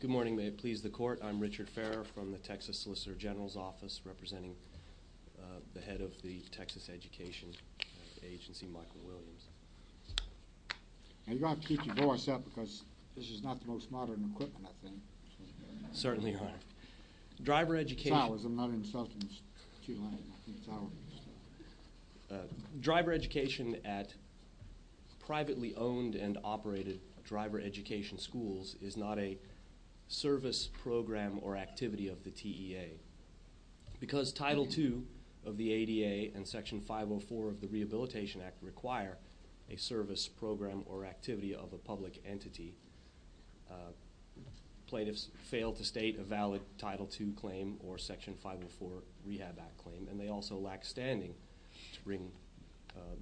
Good morning, may it please the court, I'm Richard Ferrer from the Texas Solicitor General's Office representing the head of the Texas Education Agency, Michael Williams. Are you going to keep your voice up because this is not the most modern equipment I think? Certainly not. Driver education at privately owned and operated driver education schools is not a service program or activity of the TEA. Because Title II of the ADA and Section 504 of the Rehabilitation Act require a service program or activity of a public entity, plaintiffs fail to state a valid Title II claim or Section 504 Rehab Act claim. And they also lack standing to bring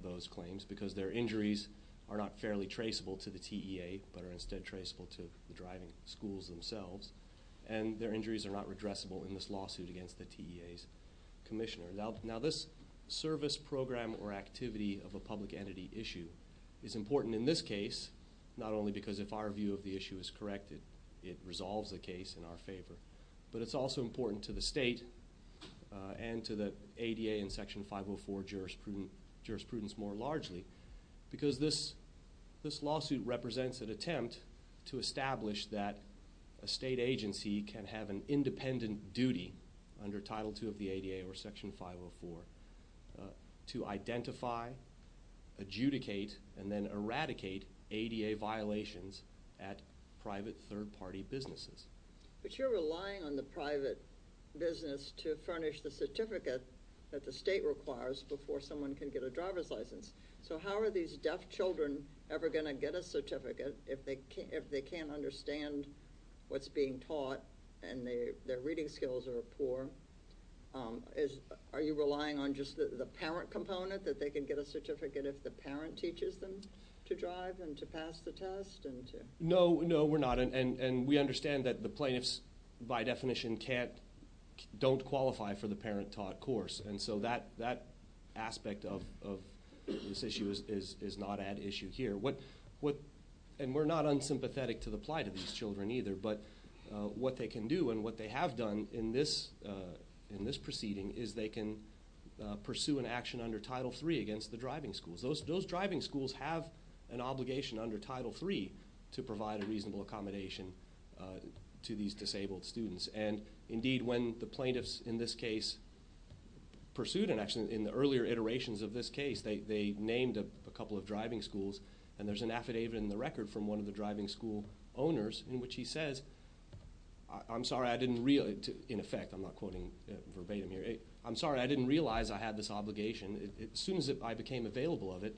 those claims because their injuries are not fairly traceable to the TEA, but are instead traceable to the driving schools themselves. And their injuries are not redressable in this lawsuit against the TEA's commissioner. Now this service program or activity of a public entity issue is important in this case, not only because if our view of the issue is correct, it resolves the case in our favor, but it's also important to the state and to the ADA and Section 504 jurisprudence more largely. Because this lawsuit represents an attempt to establish that a state agency can have an independent duty under Title II of the ADA or Section 504 to identify, adjudicate, and then eradicate ADA violations at private third-party businesses. But you're relying on the private business to furnish the certificate that the state requires before someone can get a driver's license. So how are these deaf children ever going to get a certificate if they can't understand what's being taught and their reading skills are poor? Are you relying on just the parent component that they can get a certificate if the parent teaches them to drive and to pass the test? No, no, we're not. And we understand that the plaintiffs, by definition, don't qualify for the parent-taught course. And so that aspect of this issue is not at issue here. And we're not unsympathetic to the plight of these children either, but what they can do and what they have done in this proceeding is they can pursue an action under Title III against the driving schools. Those driving schools have an obligation under Title III to provide a reasonable accommodation to these disabled students. And indeed, when the plaintiffs in this case pursued an action in the earlier iterations of this case, they named a couple of driving schools, and there's an affidavit in the record from one of the driving school owners in which he says, I'm sorry, I didn't realize, in effect, I'm not quoting verbatim here, I'm sorry, I didn't realize I had this obligation. As soon as I became available of it,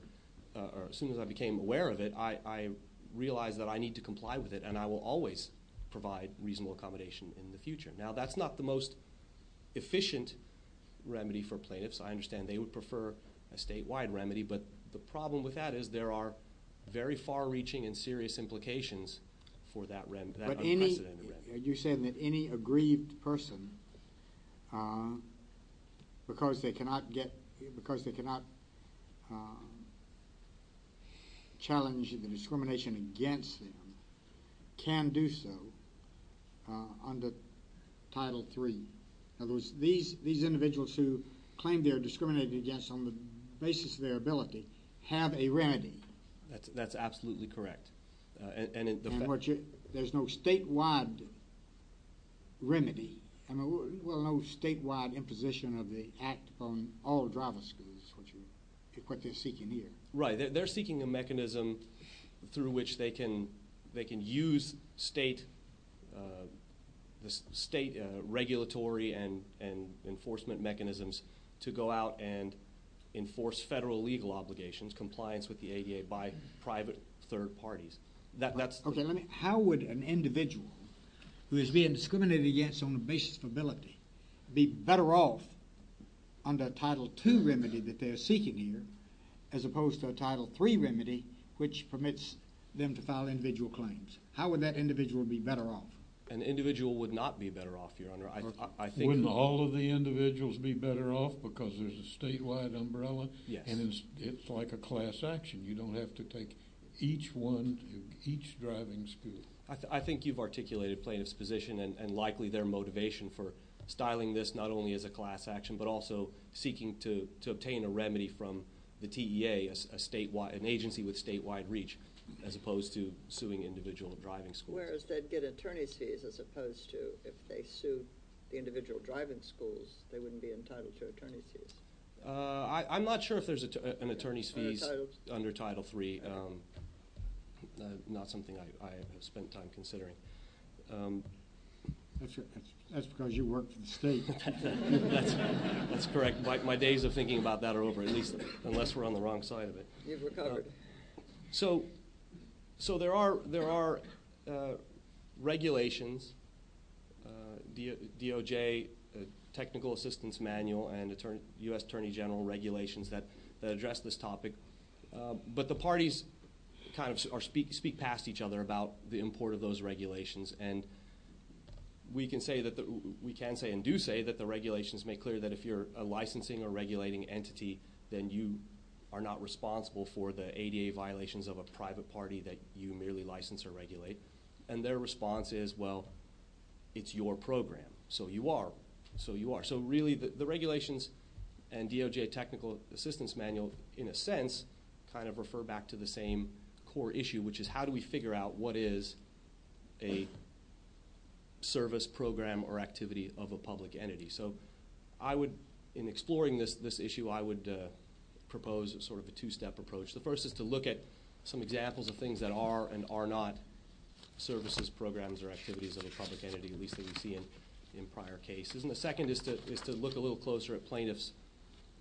or as soon as I became aware of it, I realized that I need to comply with it, and I will always provide reasonable accommodation in the future. Now, that's not the most efficient remedy for plaintiffs. I understand they would prefer a statewide remedy, but the problem with that is there are very far-reaching and serious implications for that unprecedented remedy. You're saying that any aggrieved person, because they cannot get, because they cannot challenge the discrimination against them, can do so under Title III. In other words, these individuals who claim they're discriminated against on the basis of their ability have a remedy. That's absolutely correct. And there's no statewide remedy, well, no statewide imposition of the Act on all driving schools, which is what they're seeking here. Right. They're seeking a mechanism through which they can use state regulatory and enforcement mechanisms to go out and enforce federal legal obligations, compliance with the ADA, by private third parties. How would an individual who is being discriminated against on the basis of ability be better off under Title II remedy that they're seeking here, as opposed to a Title III remedy which permits them to file individual claims? How would that individual be better off? An individual would not be better off, Your Honor. Wouldn't all of the individuals be better off because there's a statewide umbrella? Yes. And it's like a class action. You don't have to take each one, each driving school. I think you've articulated plaintiffs' position and likely their motivation for styling this not only as a class action, but also seeking to obtain a remedy from the TEA, an agency with statewide reach, as opposed to suing individual driving schools. Whereas they'd get attorney's fees as opposed to if they sued the individual driving schools, they wouldn't be entitled to attorney's fees. I'm not sure if there's an attorney's fees under Title III, not something I have spent time considering. That's because you work for the state. That's correct. My days of thinking about that are over, at least unless we're on the wrong side of it. You've recovered. So there are regulations, DOJ Technical Assistance Manual and U.S. Attorney General regulations that address this topic. But the parties kind of speak past each other about the import of those regulations. And we can say and do say that the regulations make clear that if you're a licensing or regulating entity, then you are not responsible for the ADA violations of a private party that you merely license or regulate. And their response is, well, it's your program, so you are, so you are. So really the regulations and DOJ Technical Assistance Manual, in a sense, kind of refer back to the same core issue, which is how do we figure out what is a service program or activity of a public entity. So I would, in exploring this issue, I would propose sort of a two-step approach. The first is to look at some examples of things that are and are not services, programs, or activities of a public entity, at least that we see in prior cases. And the second is to look a little closer at plaintiffs'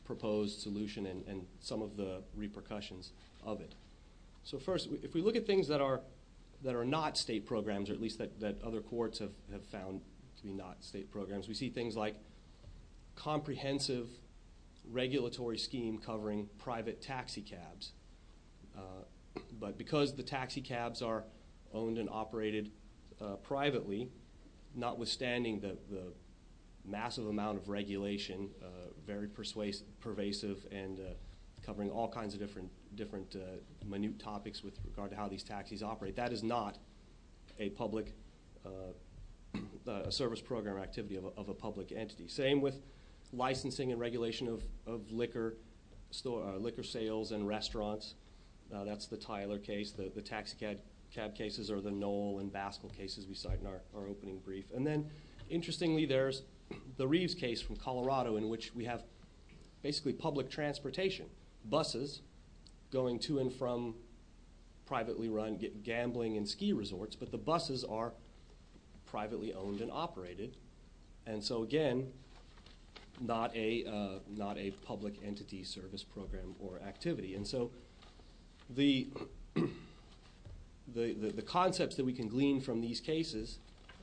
proposed solution and some of the repercussions of it. So first, if we look at things that are not state programs, or at least that other courts have found to be not state programs, we see things like comprehensive regulatory scheme covering private taxi cabs. But because the taxi cabs are owned and operated privately, notwithstanding the massive amount of regulation, very pervasive and covering all kinds of different minute topics with regard to how these taxis operate, that is not a public service program or activity of a public entity. Same with licensing and regulation of liquor sales and restaurants. That's the Tyler case. The taxi cab cases are the Knoll and Baskill cases we cite in our opening brief. And then, interestingly, there's the Reeves case from Colorado in which we have basically public transportation, buses going to and from privately run gambling and ski resorts, but the buses are privately owned and operated. And so, again, not a public entity service program or activity. And so the concepts that we can glean from these cases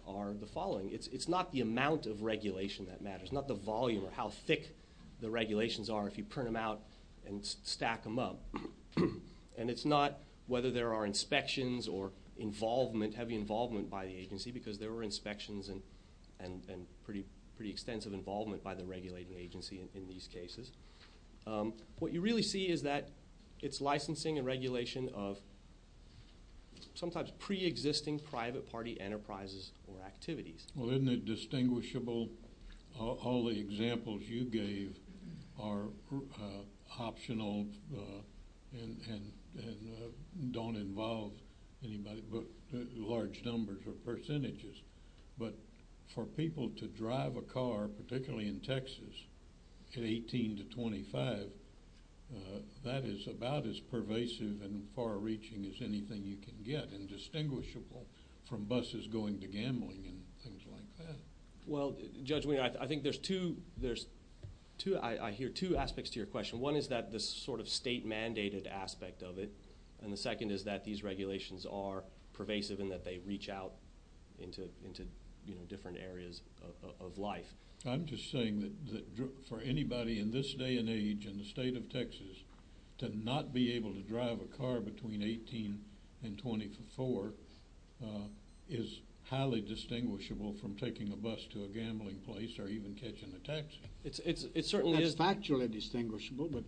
are the following. It's not the amount of regulation that matters, not the volume or how thick the regulations are if you print them out and stack them up. And it's not whether there are inspections or involvement, heavy involvement by the agency, because there were inspections and pretty extensive involvement by the regulating agency in these cases. What you really see is that it's licensing and regulation of sometimes preexisting private party enterprises or activities. Well, isn't it distinguishable? All the examples you gave are optional and don't involve anybody, but large numbers or percentages. But for people to drive a car, particularly in Texas, at 18 to 25, that is about as pervasive and far-reaching as anything you can get and distinguishable from buses going to gambling and things like that. Well, Judge Weiner, I think there's two aspects to your question. One is that this sort of state-mandated aspect of it, and the second is that these regulations are pervasive in that they reach out into different areas of life. I'm just saying that for anybody in this day and age in the state of Texas to not be able to drive a car between 18 and 24 is highly distinguishable from taking a bus to a gambling place or even catching a taxi. It's factually distinguishable, but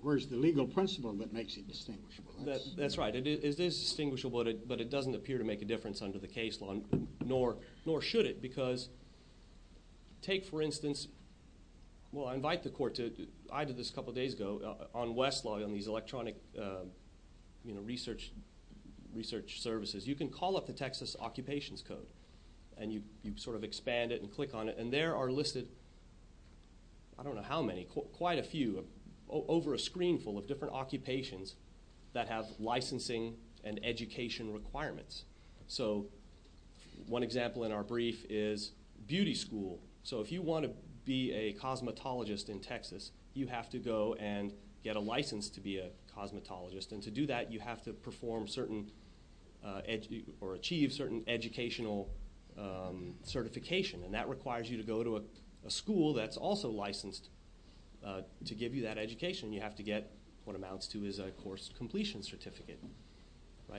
where's the legal principle that makes it distinguishable? That's right. It is distinguishable, but it doesn't appear to make a difference under the case law, nor should it. Because take, for instance, well, I invite the Court to – I did this a couple of days ago on Westlaw, on these electronic research services. You can call up the Texas Occupations Code, and you sort of expand it and click on it, and there are listed – I don't know how many – quite a few over a screen full of different occupations that have licensing and education requirements. So one example in our brief is beauty school. So if you want to be a cosmetologist in Texas, you have to go and get a license to be a cosmetologist. And to do that, you have to perform certain – or achieve certain educational certification, and that requires you to go to a school that's also licensed to give you that education. You have to get what amounts to is a course completion certificate.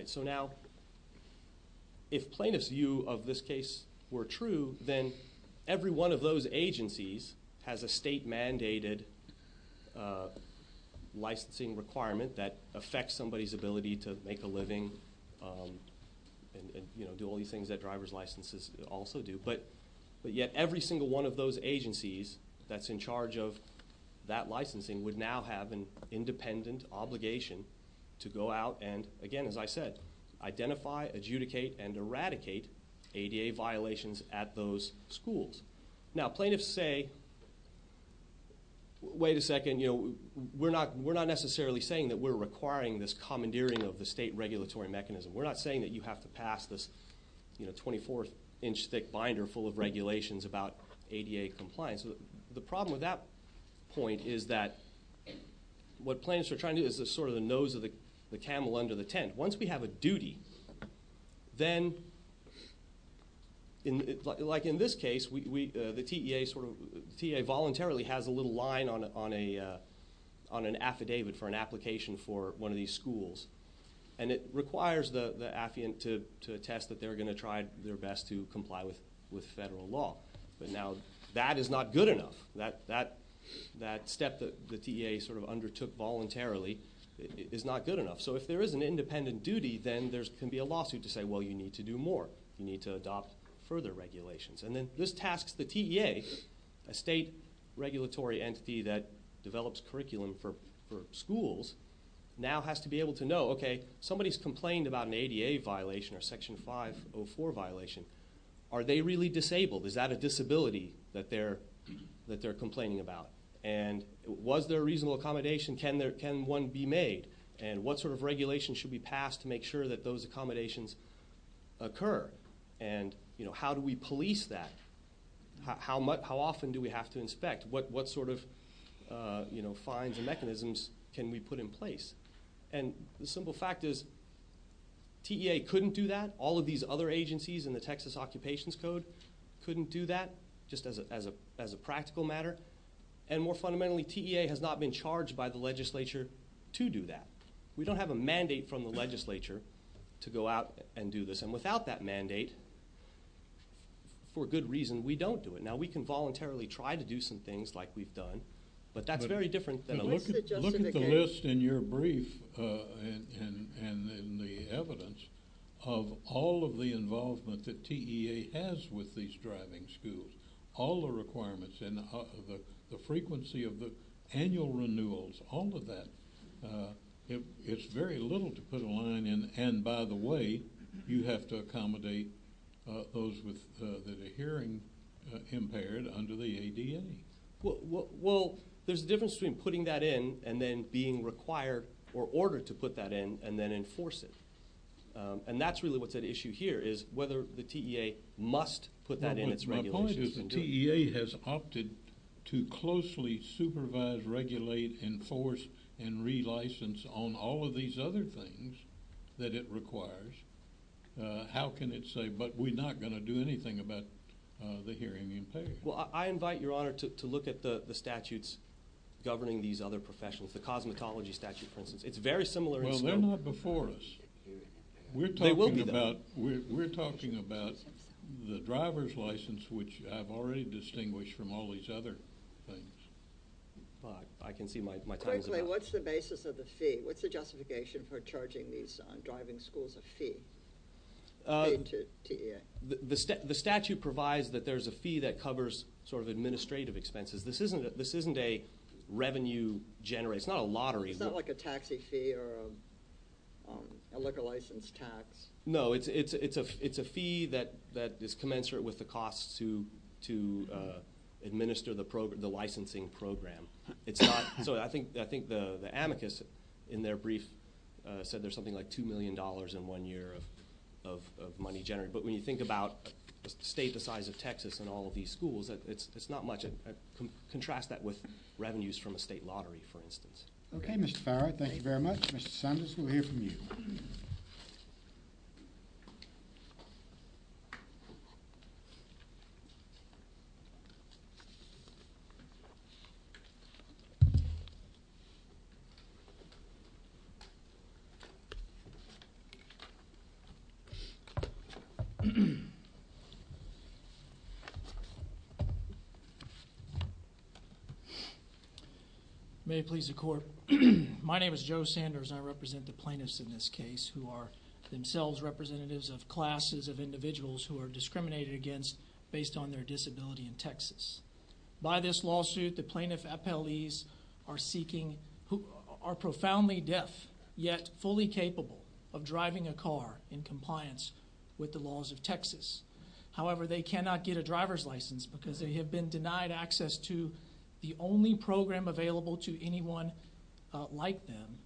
So now, if plaintiffs' view of this case were true, then every one of those agencies has a state-mandated licensing requirement that affects somebody's ability to make a living and do all these things that driver's licenses also do. But yet every single one of those agencies that's in charge of that licensing would now have an independent obligation to go out and, again, as I said, identify, adjudicate, and eradicate ADA violations at those schools. Now, plaintiffs say, wait a second, we're not necessarily saying that we're requiring this commandeering of the state regulatory mechanism. We're not saying that you have to pass this 24th-inch-thick binder full of regulations about ADA compliance. The problem with that point is that what plaintiffs are trying to do is sort of the nose of the camel under the tent. Once we have a duty, then like in this case, the TEA voluntarily has a little line on an affidavit for an application for one of these schools. And it requires the affiant to attest that they're going to try their best to comply with federal law. But now that is not good enough. That step that the TEA sort of undertook voluntarily is not good enough. So if there is an independent duty, then there can be a lawsuit to say, well, you need to do more. You need to adopt further regulations. And then this tasks the TEA, a state regulatory entity that develops curriculum for schools, now has to be able to know, okay, somebody's complained about an ADA violation or Section 504 violation. Are they really disabled? Is that a disability that they're complaining about? And was there a reasonable accommodation? Can one be made? And what sort of regulations should be passed to make sure that those accommodations occur? And, you know, how do we police that? How often do we have to inspect? What sort of, you know, fines and mechanisms can we put in place? And the simple fact is TEA couldn't do that. All of these other agencies in the Texas Occupations Code couldn't do that just as a practical matter. And more fundamentally, TEA has not been charged by the legislature to do that. We don't have a mandate from the legislature to go out and do this. And without that mandate, for good reason, we don't do it. Now, we can voluntarily try to do some things like we've done, but that's very different than a lawsuit. Look at the list in your brief and in the evidence of all of the involvement that TEA has with these driving schools, all the requirements and the frequency of the annual renewals, all of that. It's very little to put a line in. And by the way, you have to accommodate those that are hearing impaired under the ADA. Well, there's a difference between putting that in and then being required or ordered to put that in and then enforce it. And that's really what's at issue here is whether the TEA must put that in its regulations. If the TEA has opted to closely supervise, regulate, enforce, and relicense on all of these other things that it requires, how can it say, but we're not going to do anything about the hearing impaired? Well, I invite Your Honor to look at the statutes governing these other professionals, the cosmetology statute, for instance. It's very similar in scope. Well, they're not before us. We're talking about the driver's license, which I've already distinguished from all these other things. I can see my time is about up. Quickly, what's the basis of the fee? What's the justification for charging these driving schools a fee? The statute provides that there's a fee that covers sort of administrative expenses. This isn't a revenue generated. It's not a lottery. It's not like a taxi fee or a liquor license tax. No, it's a fee that is commensurate with the costs to administer the licensing program. So I think the amicus in their brief said there's something like $2 million in one year of money generated. But when you think about a state the size of Texas and all of these schools, it's not much. Contrast that with revenues from a state lottery, for instance. OK, Mr. Farrar. Thank you very much. Mr. Saunders, we'll hear from you. May it please the court. My name is Joe Sanders, and I represent the plaintiffs in this case who are themselves representatives of classes of individuals who are discriminated against based on their disability in Texas. By this lawsuit, the plaintiff's appellees are profoundly deaf yet fully capable of driving a car in compliance with the laws of Texas. However, they cannot get a driver's license because they have been denied access to the only program available to anyone like them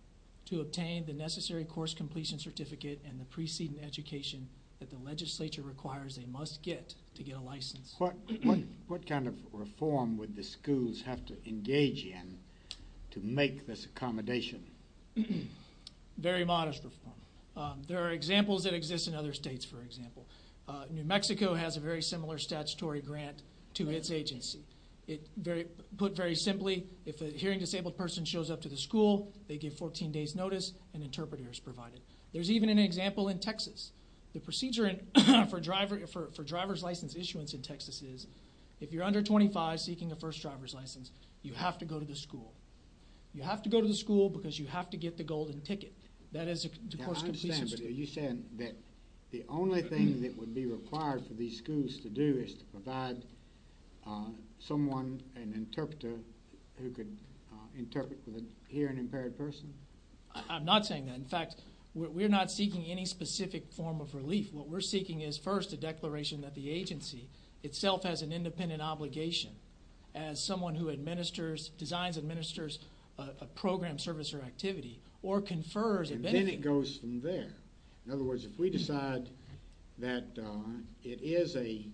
to obtain the necessary course completion certificate and the preceding education that the legislature requires they must get to get a license. What kind of reform would the schools have to engage in to make this accommodation? Very modest reform. There are examples that exist in other states, for example. New Mexico has a very similar statutory grant to its agency. Put very simply, if a hearing disabled person shows up to the school, they get 14 days notice, an interpreter is provided. There's even an example in Texas. The procedure for driver's license issuance in Texas is if you're under 25 seeking a first driver's license, you have to go to the school. You have to go to the school because you have to get the golden ticket. That is the course completion certificate. I understand, but are you saying that the only thing that would be required for these schools to do is to provide someone, an interpreter, who could interpret for the hearing impaired person? I'm not saying that. In fact, we're not seeking any specific form of relief. What we're seeking is first a declaration that the agency itself has an independent obligation as someone who designs, administers a program, service, or activity or confers a benefit. Then it goes from there. In other words, if we decide that it is a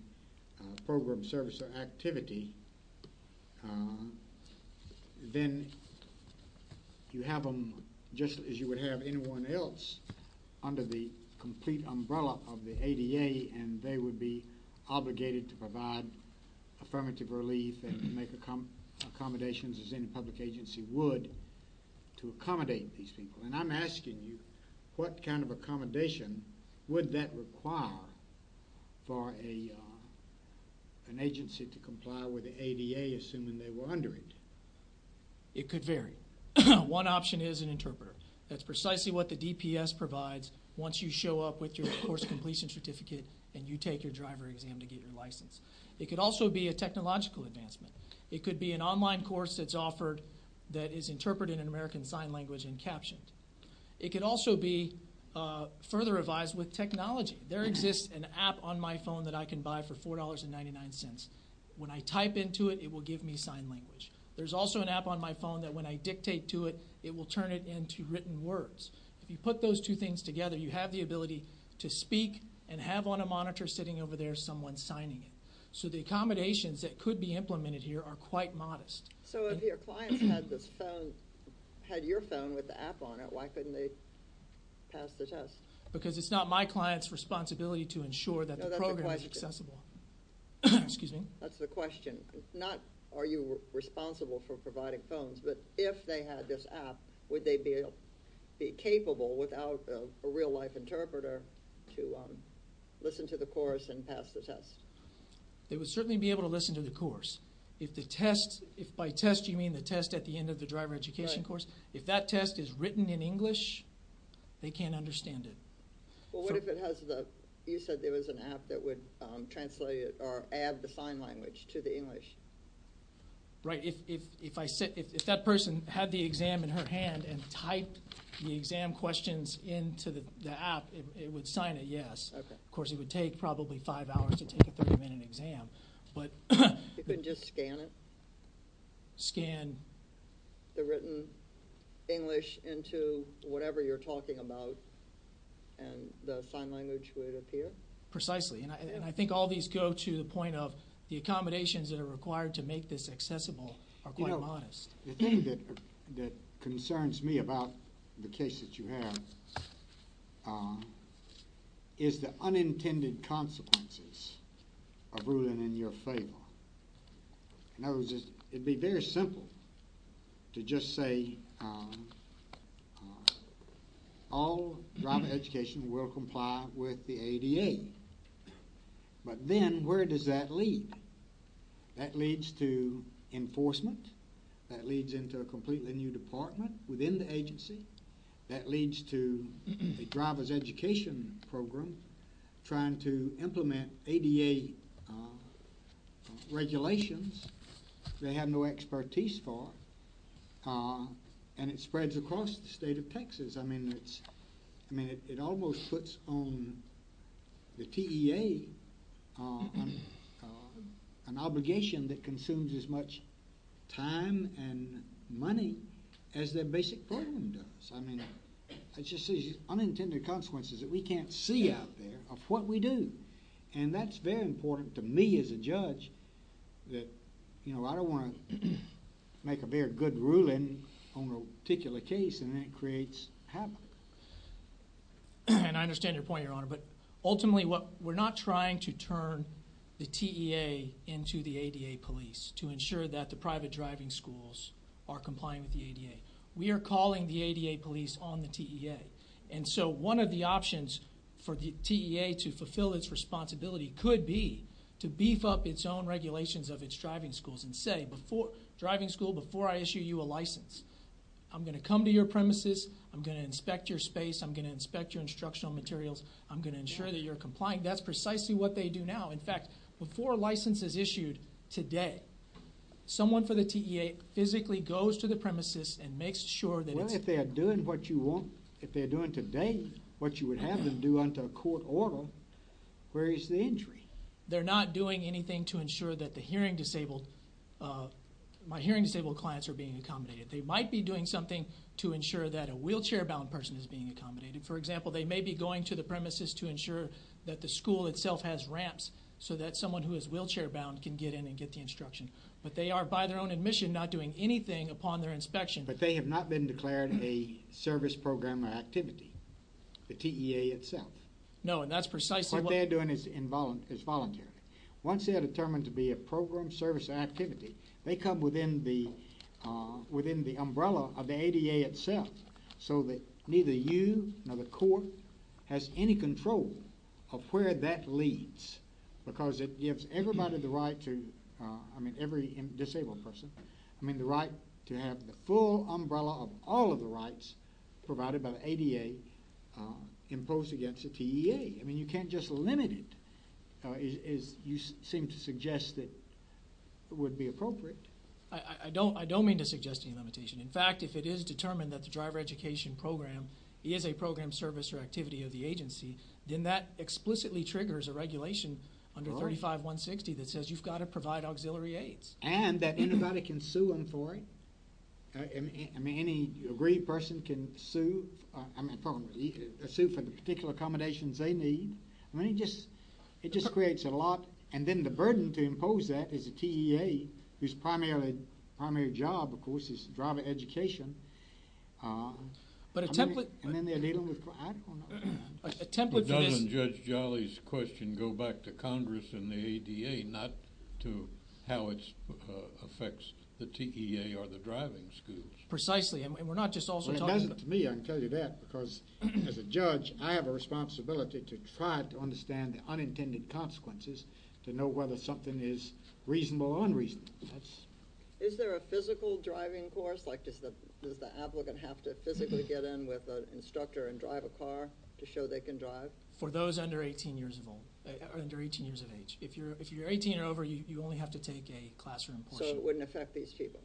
program, service, or activity, then you have them just as you would have anyone else under the complete umbrella of the ADA, and they would be obligated to provide affirmative relief and make accommodations as any public agency would to accommodate these people. I'm asking you, what kind of accommodation would that require for an agency to comply with the ADA assuming they were under it? It could vary. One option is an interpreter. That's precisely what the DPS provides once you show up with your course completion certificate and you take your driver exam to get your license. It could also be a technological advancement. It could be an online course that's offered that is interpreted in American Sign Language and captioned. It could also be further revised with technology. There exists an app on my phone that I can buy for $4.99. When I type into it, it will give me sign language. There's also an app on my phone that when I dictate to it, it will turn it into written words. If you put those two things together, you have the ability to speak and have on a monitor sitting over there someone signing it. The accommodations that could be implemented here are quite modest. If your client had your phone with the app on it, why couldn't they pass the test? It's not my client's responsibility to ensure that the program is accessible. That's the question. Not are you responsible for providing phones, but if they had this app, would they be capable without a real-life interpreter to listen to the course and pass the test? They would certainly be able to listen to the course. If by test you mean the test at the end of the driver education course, if that test is written in English, they can't understand it. What if you said there was an app that would translate or add the sign language to the English? If that person had the exam in her hand and typed the exam questions into the app, it would sign a yes. Of course, it would take probably five hours to take a 30-minute exam. You couldn't just scan it? Scan the written English into whatever you're talking about and the sign language would appear? Precisely. I think all these go to the point of the accommodations that are required to make this accessible are quite modest. The thing that concerns me about the case that you have is the unintended consequences of ruling in your favor. In other words, it would be very simple to just say all driver education will comply with the ADA, but then where does that lead? That leads to enforcement. That leads into a completely new department within the agency. That leads to a driver's education program trying to implement ADA regulations they have no expertise for, and it spreads across the state of Texas. It almost puts on the TEA an obligation that consumes as much time and money as their basic program does. It's just these unintended consequences that we can't see out there of what we do. That's very important to me as a judge. I don't want to make a very good ruling on a particular case and then it creates havoc. I understand your point, Your Honor. Ultimately, we're not trying to turn the TEA into the ADA police to ensure that the private driving schools are complying with the ADA. We are calling the ADA police on the TEA. One of the options for the TEA to fulfill its responsibility could be to beef up its own regulations of its driving schools and say, driving school, before I issue you a license, I'm going to come to your premises. I'm going to inspect your space. I'm going to inspect your instructional materials. I'm going to ensure that you're complying. That's precisely what they do now. In fact, before a license is issued today, someone for the TEA physically goes to the premises and makes sure that it's— if they're doing today what you would have them do under a court order, where is the injury? They're not doing anything to ensure that the hearing disabled—my hearing disabled clients are being accommodated. They might be doing something to ensure that a wheelchair-bound person is being accommodated. For example, they may be going to the premises to ensure that the school itself has ramps so that someone who is wheelchair-bound can get in and get the instruction. But they are, by their own admission, not doing anything upon their inspection. But they have not been declared a service program or activity, the TEA itself. No, and that's precisely what— What they're doing is voluntarily. Once they are determined to be a program, service, or activity, they come within the umbrella of the ADA itself so that neither you nor the court has any control of where that leads because it gives everybody the right to—I mean, every disabled person—I mean, the right to have the full umbrella of all of the rights provided by the ADA imposed against the TEA. I mean, you can't just limit it, as you seem to suggest that would be appropriate. I don't mean to suggest any limitation. In fact, if it is determined that the driver education program is a program, service, or activity of the agency, then that explicitly triggers a regulation under 35160 that says you've got to provide auxiliary aids. And that anybody can sue them for it. I mean, any aggrieved person can sue—I mean, pardon me—sue for the particular accommodations they need. I mean, it just creates a lot. And then the burden to impose that is the TEA, whose primary job, of course, is driver education. But a template— Doesn't Judge Jolly's question go back to Congress and the ADA, not to how it affects the TEA or the driving schools? Precisely. And we're not just also talking about— Well, it doesn't to me, I can tell you that. Because as a judge, I have a responsibility to try to understand the unintended consequences to know whether something is reasonable or unreasonable. Is there a physical driving course? Like, does the applicant have to physically get in with an instructor and drive a car to show they can drive? For those under 18 years of age. If you're 18 or over, you only have to take a classroom portion. So it wouldn't affect these people?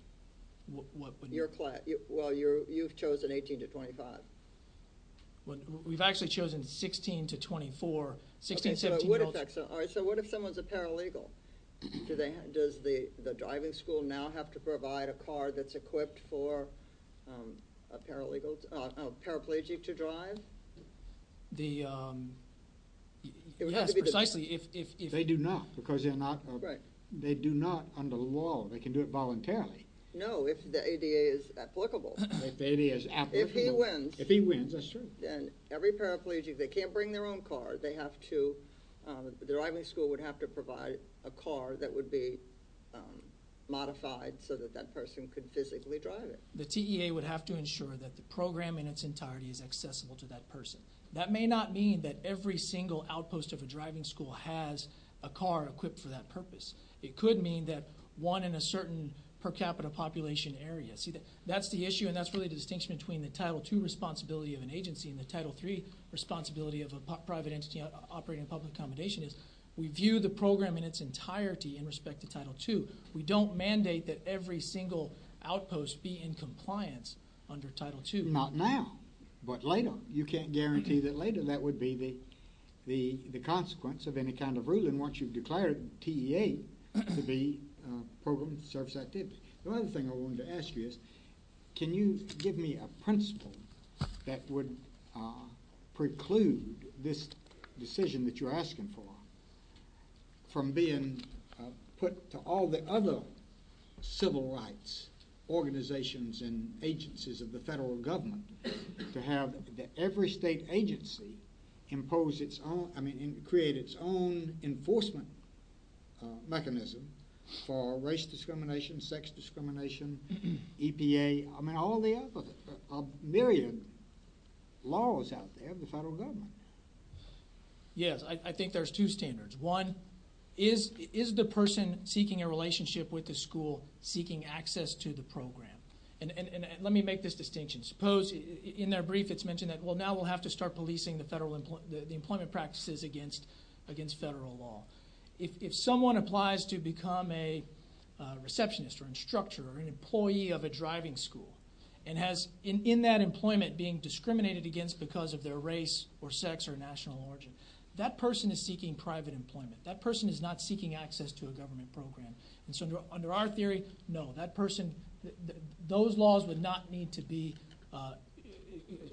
Well, you've chosen 18 to 25. We've actually chosen 16 to 24. All right, so what if someone's a paralegal? Does the driving school now have to provide a car that's equipped for a paraplegic to drive? Yes, precisely. They do not, because they're not— Right. They do not under law. They can do it voluntarily. No, if the ADA is applicable. If the ADA is applicable. If he wins. If he wins, that's true. Then every paraplegic, if they can't bring their own car, they have to—the driving school would have to provide a car that would be modified so that that person could physically drive it. The TEA would have to ensure that the program in its entirety is accessible to that person. That may not mean that every single outpost of a driving school has a car equipped for that purpose. It could mean that one in a certain per capita population area. That's the issue, and that's really the distinction between the Title II responsibility of an agency and the Title III responsibility of a private entity operating a public accommodation. We view the program in its entirety in respect to Title II. We don't mandate that every single outpost be in compliance under Title II. Not now, but later. You can't guarantee that later. That would be the consequence of any kind of ruling once you've declared TEA to be a program that serves that duty. The other thing I wanted to ask you is can you give me a principle that would preclude this decision that you're asking for from being put to all the other civil rights organizations and agencies of the federal government to have every state agency create its own enforcement mechanism for race discrimination, sex discrimination, EPA, all the other myriad laws out there of the federal government? Yes, I think there's two standards. One, is the person seeking a relationship with the school seeking access to the program? Let me make this distinction. Suppose in their brief it's mentioned that, well, now we'll have to start policing the employment practices against federal law. If someone applies to become a receptionist or instructor or an employee of a driving school and has, in that employment, been discriminated against because of their race or sex or national origin, that person is seeking private employment. That person is not seeking access to a government program. And so under our theory, no, that person, those laws would not need to be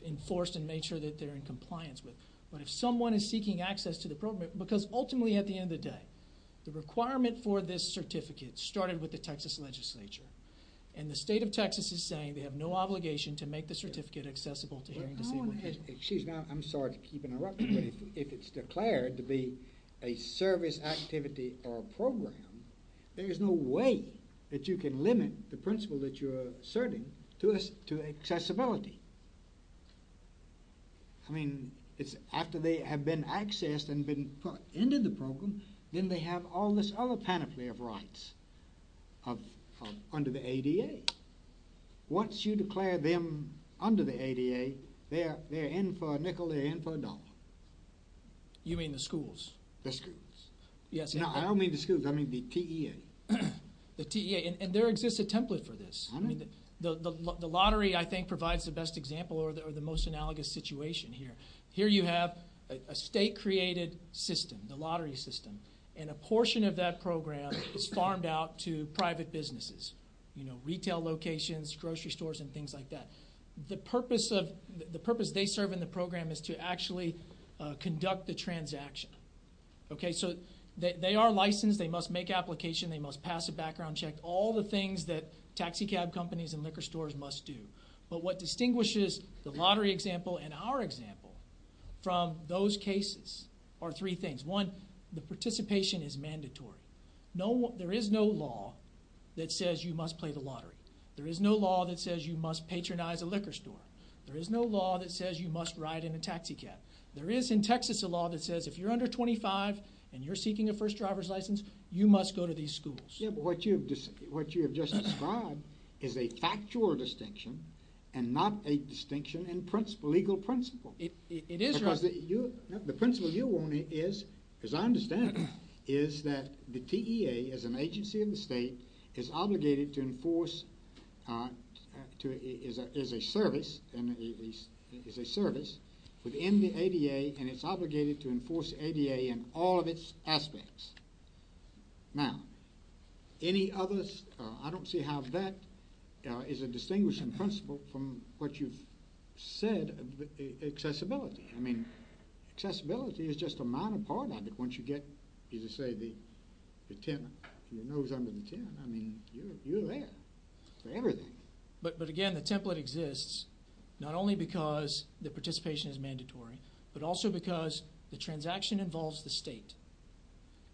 enforced and made sure that they're in compliance with. But if someone is seeking access to the program, because ultimately at the end of the day, the requirement for this certificate started with the Texas legislature. And the state of Texas is saying they have no obligation to make the certificate accessible to hearing, disabled people. Excuse me, I'm sorry to keep interrupting, but if it's declared to be a service activity or a program, there is no way that you can limit the principle that you're asserting to accessibility. I mean, after they have been accessed and been put into the program, then they have all this other panoply of rights under the ADA. Once you declare them under the ADA, they're in for a nickel, they're in for a dollar. You mean the schools? The schools. Yes. No, I don't mean the schools. I mean the TEA. The TEA. And there exists a template for this. The lottery, I think, provides the best example or the most analogous situation here. Here you have a state-created system, the lottery system, and a portion of that program is farmed out to private businesses. You know, retail locations, grocery stores, and things like that. The purpose they serve in the program is to actually conduct the transaction. Okay, so they are licensed, they must make application, they must pass a background check, all the things that taxicab companies and liquor stores must do. But what distinguishes the lottery example and our example from those cases are three things. One, the participation is mandatory. There is no law that says you must play the lottery. There is no law that says you must patronize a liquor store. There is no law that says you must ride in a taxicab. There is in Texas a law that says if you're under 25 and you're seeking a first driver's license, you must go to these schools. Yeah, but what you have just described is a factual distinction and not a distinction in principle, legal principle. It is. Because the principle you want is, as I understand it, is that the TEA as an agency of the state is obligated to enforce, is a service within the ADA, and it's obligated to enforce the ADA in all of its aspects. Now, any others? I don't see how that is a distinguishing principle from what you've said, accessibility. I mean, accessibility is just a minor part of it. Once you get, as you say, the 10, your nose under the 10, I mean, you're there for everything. But again, the template exists not only because the participation is mandatory, but also because the transaction involves the state.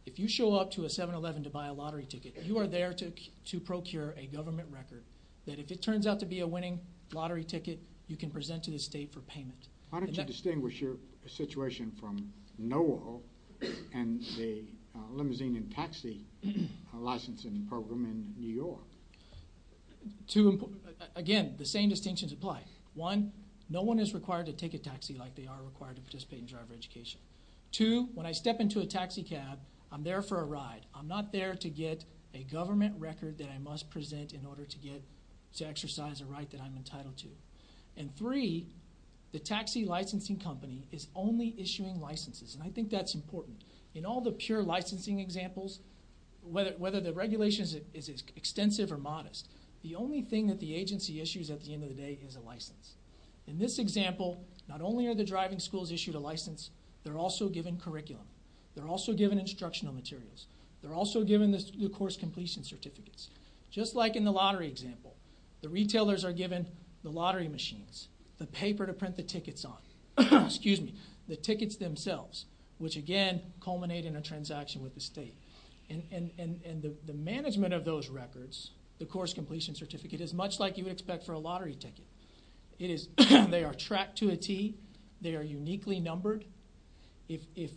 If you show up to a 7-Eleven to buy a lottery ticket, you are there to procure a government record that if it turns out to be a winning lottery ticket, you can present to the state for payment. How did you distinguish your situation from NOAA and the limousine and taxi licensing program in New York? Again, the same distinctions apply. One, no one is required to take a taxi like they are required to participate in driver education. Two, when I step into a taxi cab, I'm there for a ride. I'm not there to get a government record that I must present in order to exercise a right that I'm entitled to. And three, the taxi licensing company is only issuing licenses, and I think that's important. In all the pure licensing examples, whether the regulation is extensive or modest, the only thing that the agency issues at the end of the day is a license. In this example, not only are the driving schools issued a license, they're also given curriculum. They're also given instructional materials. They're also given the course completion certificates. Just like in the lottery example, the retailers are given the lottery machines, the paper to print the tickets on, the tickets themselves, which again culminate in a transaction with the state. And the management of those records, the course completion certificate, is much like you would expect for a lottery ticket. They are tracked to a T. They are uniquely numbered. If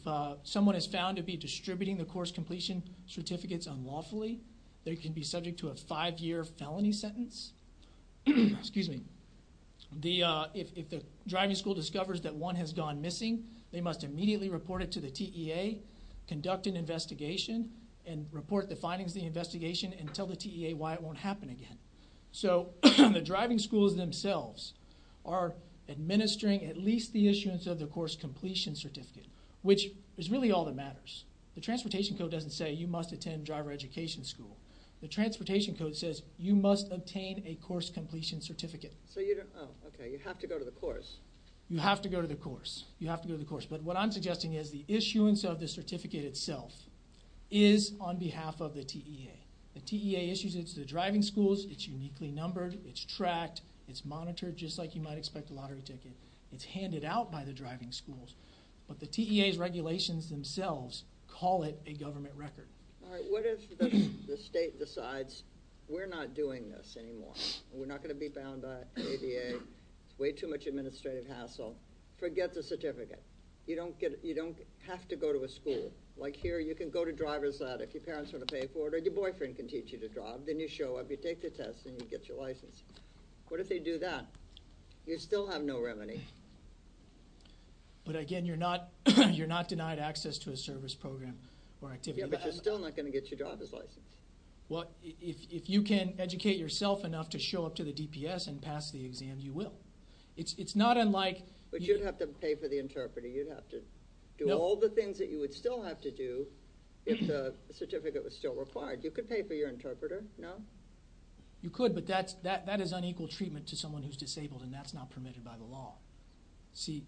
someone is found to be distributing the course completion certificates unlawfully, they can be subject to a five-year felony sentence. If the driving school discovers that one has gone missing, they must immediately report it to the TEA, conduct an investigation, and report the findings of the investigation and tell the TEA why it won't happen again. So the driving schools themselves are administering at least the issuance of the course completion certificate, which is really all that matters. The transportation code doesn't say you must attend driver education school. The transportation code says you must obtain a course completion certificate. So you don't, oh, okay, you have to go to the course. You have to go to the course. You have to go to the course. But what I'm suggesting is the issuance of the certificate itself is on behalf of the TEA. The TEA issues it to the driving schools. It's uniquely numbered. It's tracked. It's monitored, just like you might expect a lottery ticket. It's handed out by the driving schools. But the TEA's regulations themselves call it a government record. All right, what if the state decides we're not doing this anymore? We're not going to be bound by ADA. It's way too much administrative hassle. Forget the certificate. You don't have to go to a school. Like here, you can go to driver's lab if your parents want to pay for it, or your boyfriend can teach you to drive. Then you show up, you take the test, and you get your license. What if they do that? You still have no remedy. But, again, you're not denied access to a service program or activity. Yeah, but you're still not going to get your driver's license. Well, if you can educate yourself enough to show up to the DPS and pass the exam, you will. It's not unlike you'd have to pay for the interpreter. You'd have to do all the things that you would still have to do if the certificate was still required. You could pay for your interpreter, no? You could, but that is unequal treatment to someone who's disabled, and that's not permitted by the law. See,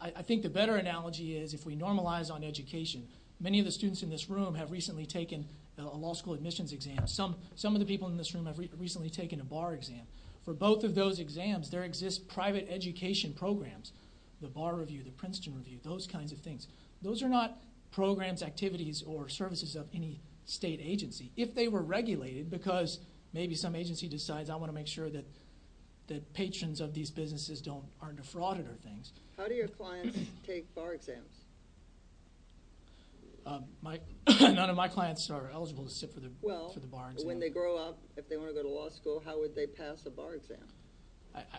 I think the better analogy is if we normalize on education. Many of the students in this room have recently taken a law school admissions exam. Some of the people in this room have recently taken a bar exam. For both of those exams, there exist private education programs. The Bar Review, the Princeton Review, those kinds of things. Those are not programs, activities, or services of any state agency. If they were regulated, because maybe some agency decides, I want to make sure that patrons of these businesses aren't defrauded or things. How do your clients take bar exams? None of my clients are eligible to sit for the bar exam. Well, when they grow up, if they want to go to law school, how would they pass a bar exam?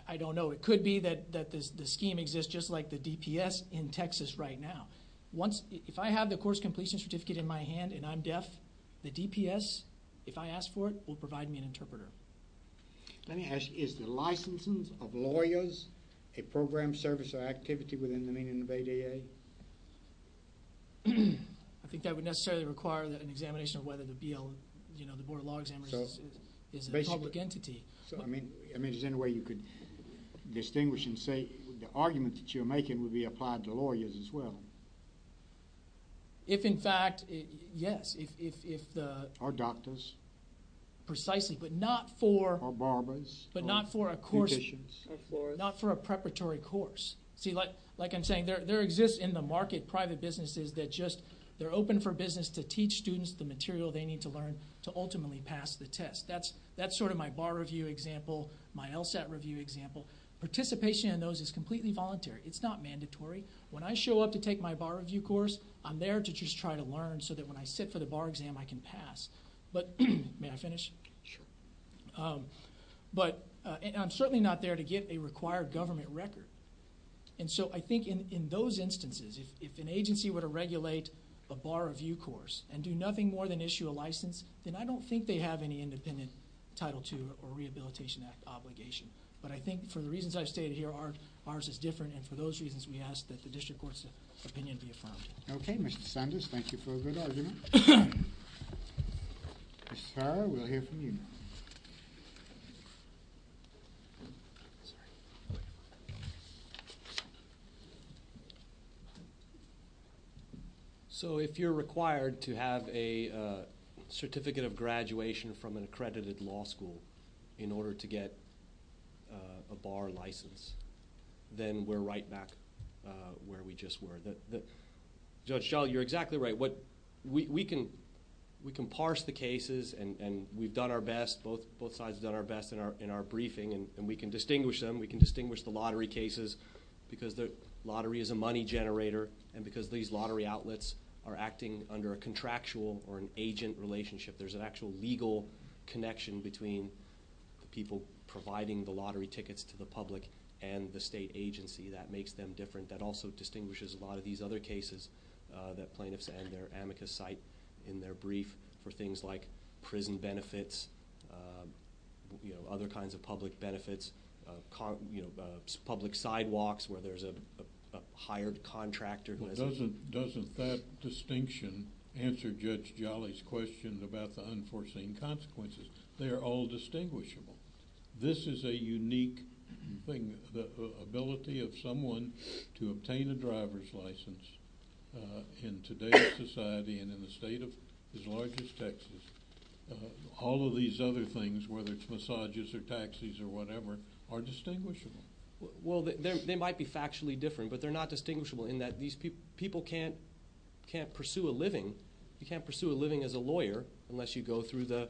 I don't know. It could be that the scheme exists just like the DPS in Texas right now. If I have the course completion certificate in my hand and I'm deaf, the DPS, if I ask for it, will provide me an interpreter. Let me ask, is the licensing of lawyers a program, service, or activity within the meaning of ADA? I think that would necessarily require an examination of whether the BL, you know, the Board of Law Examiners is a public entity. I mean, is there any way you could distinguish and say the argument that you're making would be applied to lawyers as well? If, in fact, yes. Or doctors. Precisely, but not for a preparatory course. See, like I'm saying, there exists in the market private businesses that just, they're open for business to teach students the material they need to learn to ultimately pass the test. That's sort of my bar review example, my LSAT review example. Participation in those is completely voluntary. It's not mandatory. When I show up to take my bar review course, I'm there to just try to learn so that when I sit for the bar exam I can pass. May I finish? Sure. But I'm certainly not there to get a required government record. And so I think in those instances, if an agency were to regulate a bar review course and do nothing more than issue a license, then I don't think they have any independent Title II or Rehabilitation Act obligation. But I think for the reasons I've stated here, ours is different, and for those reasons we ask that the district court's opinion be affirmed. Okay. Mr. Sanders, thank you for a good argument. Mr. Sarra, we'll hear from you now. Sorry. So if you're required to have a certificate of graduation from an accredited law school in order to get a bar license, then we're right back where we just were. Judge Schall, you're exactly right. We can parse the cases, and we've done our best, both sides have done our best in our briefing, and we can distinguish them. We can distinguish the lottery cases because the lottery is a money generator and because these lottery outlets are acting under a contractual or an agent relationship. There's an actual legal connection between people providing the lottery tickets to the public and the state agency that makes them different, that also distinguishes a lot of these other cases that plaintiffs and their amicus cite in their brief for things like prison benefits, other kinds of public benefits, public sidewalks where there's a hired contractor. Doesn't that distinction answer Judge Jolly's question about the unforeseen consequences? They are all distinguishable. This is a unique thing, the ability of someone to obtain a driver's license in today's society and in a state as large as Texas. All of these other things, whether it's massages or taxis or whatever, are distinguishable. Well, they might be factually different, but they're not distinguishable in that people can't pursue a living. You can't pursue a living as a lawyer unless you go through the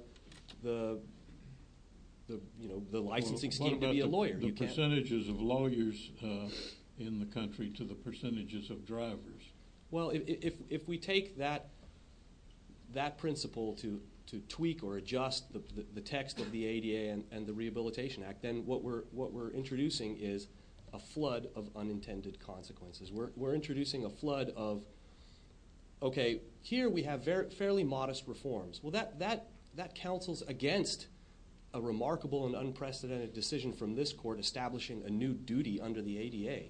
licensing scheme to be a lawyer. What about the percentages of lawyers in the country to the percentages of drivers? Well, if we take that principle to tweak or adjust the text of the ADA and the Rehabilitation Act, then what we're introducing is a flood of unintended consequences. We're introducing a flood of, okay, here we have fairly modest reforms. Well, that counsels against a remarkable and unprecedented decision from this court establishing a new duty under the ADA.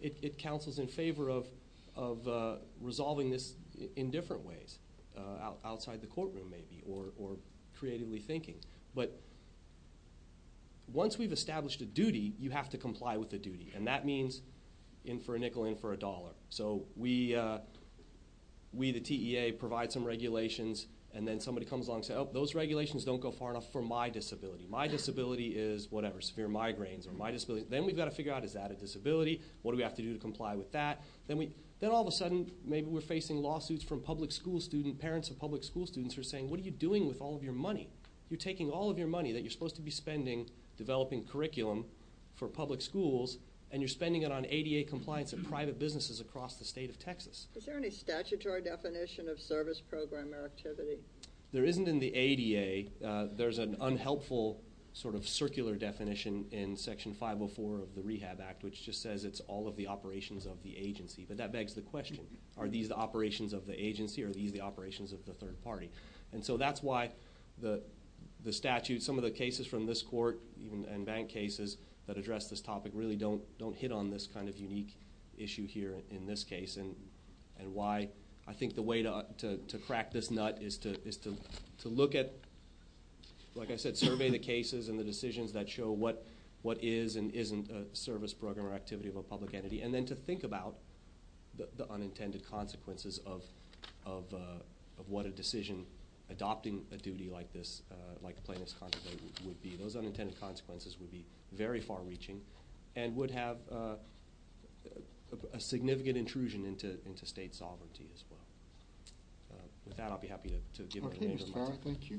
It counsels in favor of resolving this in different ways, outside the courtroom maybe or creatively thinking. But once we've established a duty, you have to comply with the duty, and that means in for a nickel, in for a dollar. So we, the TEA, provide some regulations, and then somebody comes along and says, oh, those regulations don't go far enough for my disability. My disability is whatever, severe migraines or my disability. Then we've got to figure out, is that a disability? What do we have to do to comply with that? Then all of a sudden, maybe we're facing lawsuits from public school students. Parents of public school students are saying, what are you doing with all of your money? You're taking all of your money that you're supposed to be spending developing curriculum for public schools, and you're spending it on ADA compliance of private businesses across the state of Texas. Is there any statutory definition of service program or activity? There isn't in the ADA. There's an unhelpful sort of circular definition in Section 504 of the Rehab Act, which just says it's all of the operations of the agency. But that begs the question, are these the operations of the agency? Are these the operations of the third party? And so that's why the statute, some of the cases from this court and bank cases that address this topic, really don't hit on this kind of unique issue here in this case, and why I think the way to crack this nut is to look at, like I said, survey the cases and the decisions that show what is and isn't a service program or activity of a public entity, and then to think about the unintended consequences of what a decision adopting a duty like this, like plaintiff's contraband, would be. Those unintended consequences would be very far reaching and would have a significant intrusion into state sovereignty as well. With that, I'll be happy to give it away. Thank you.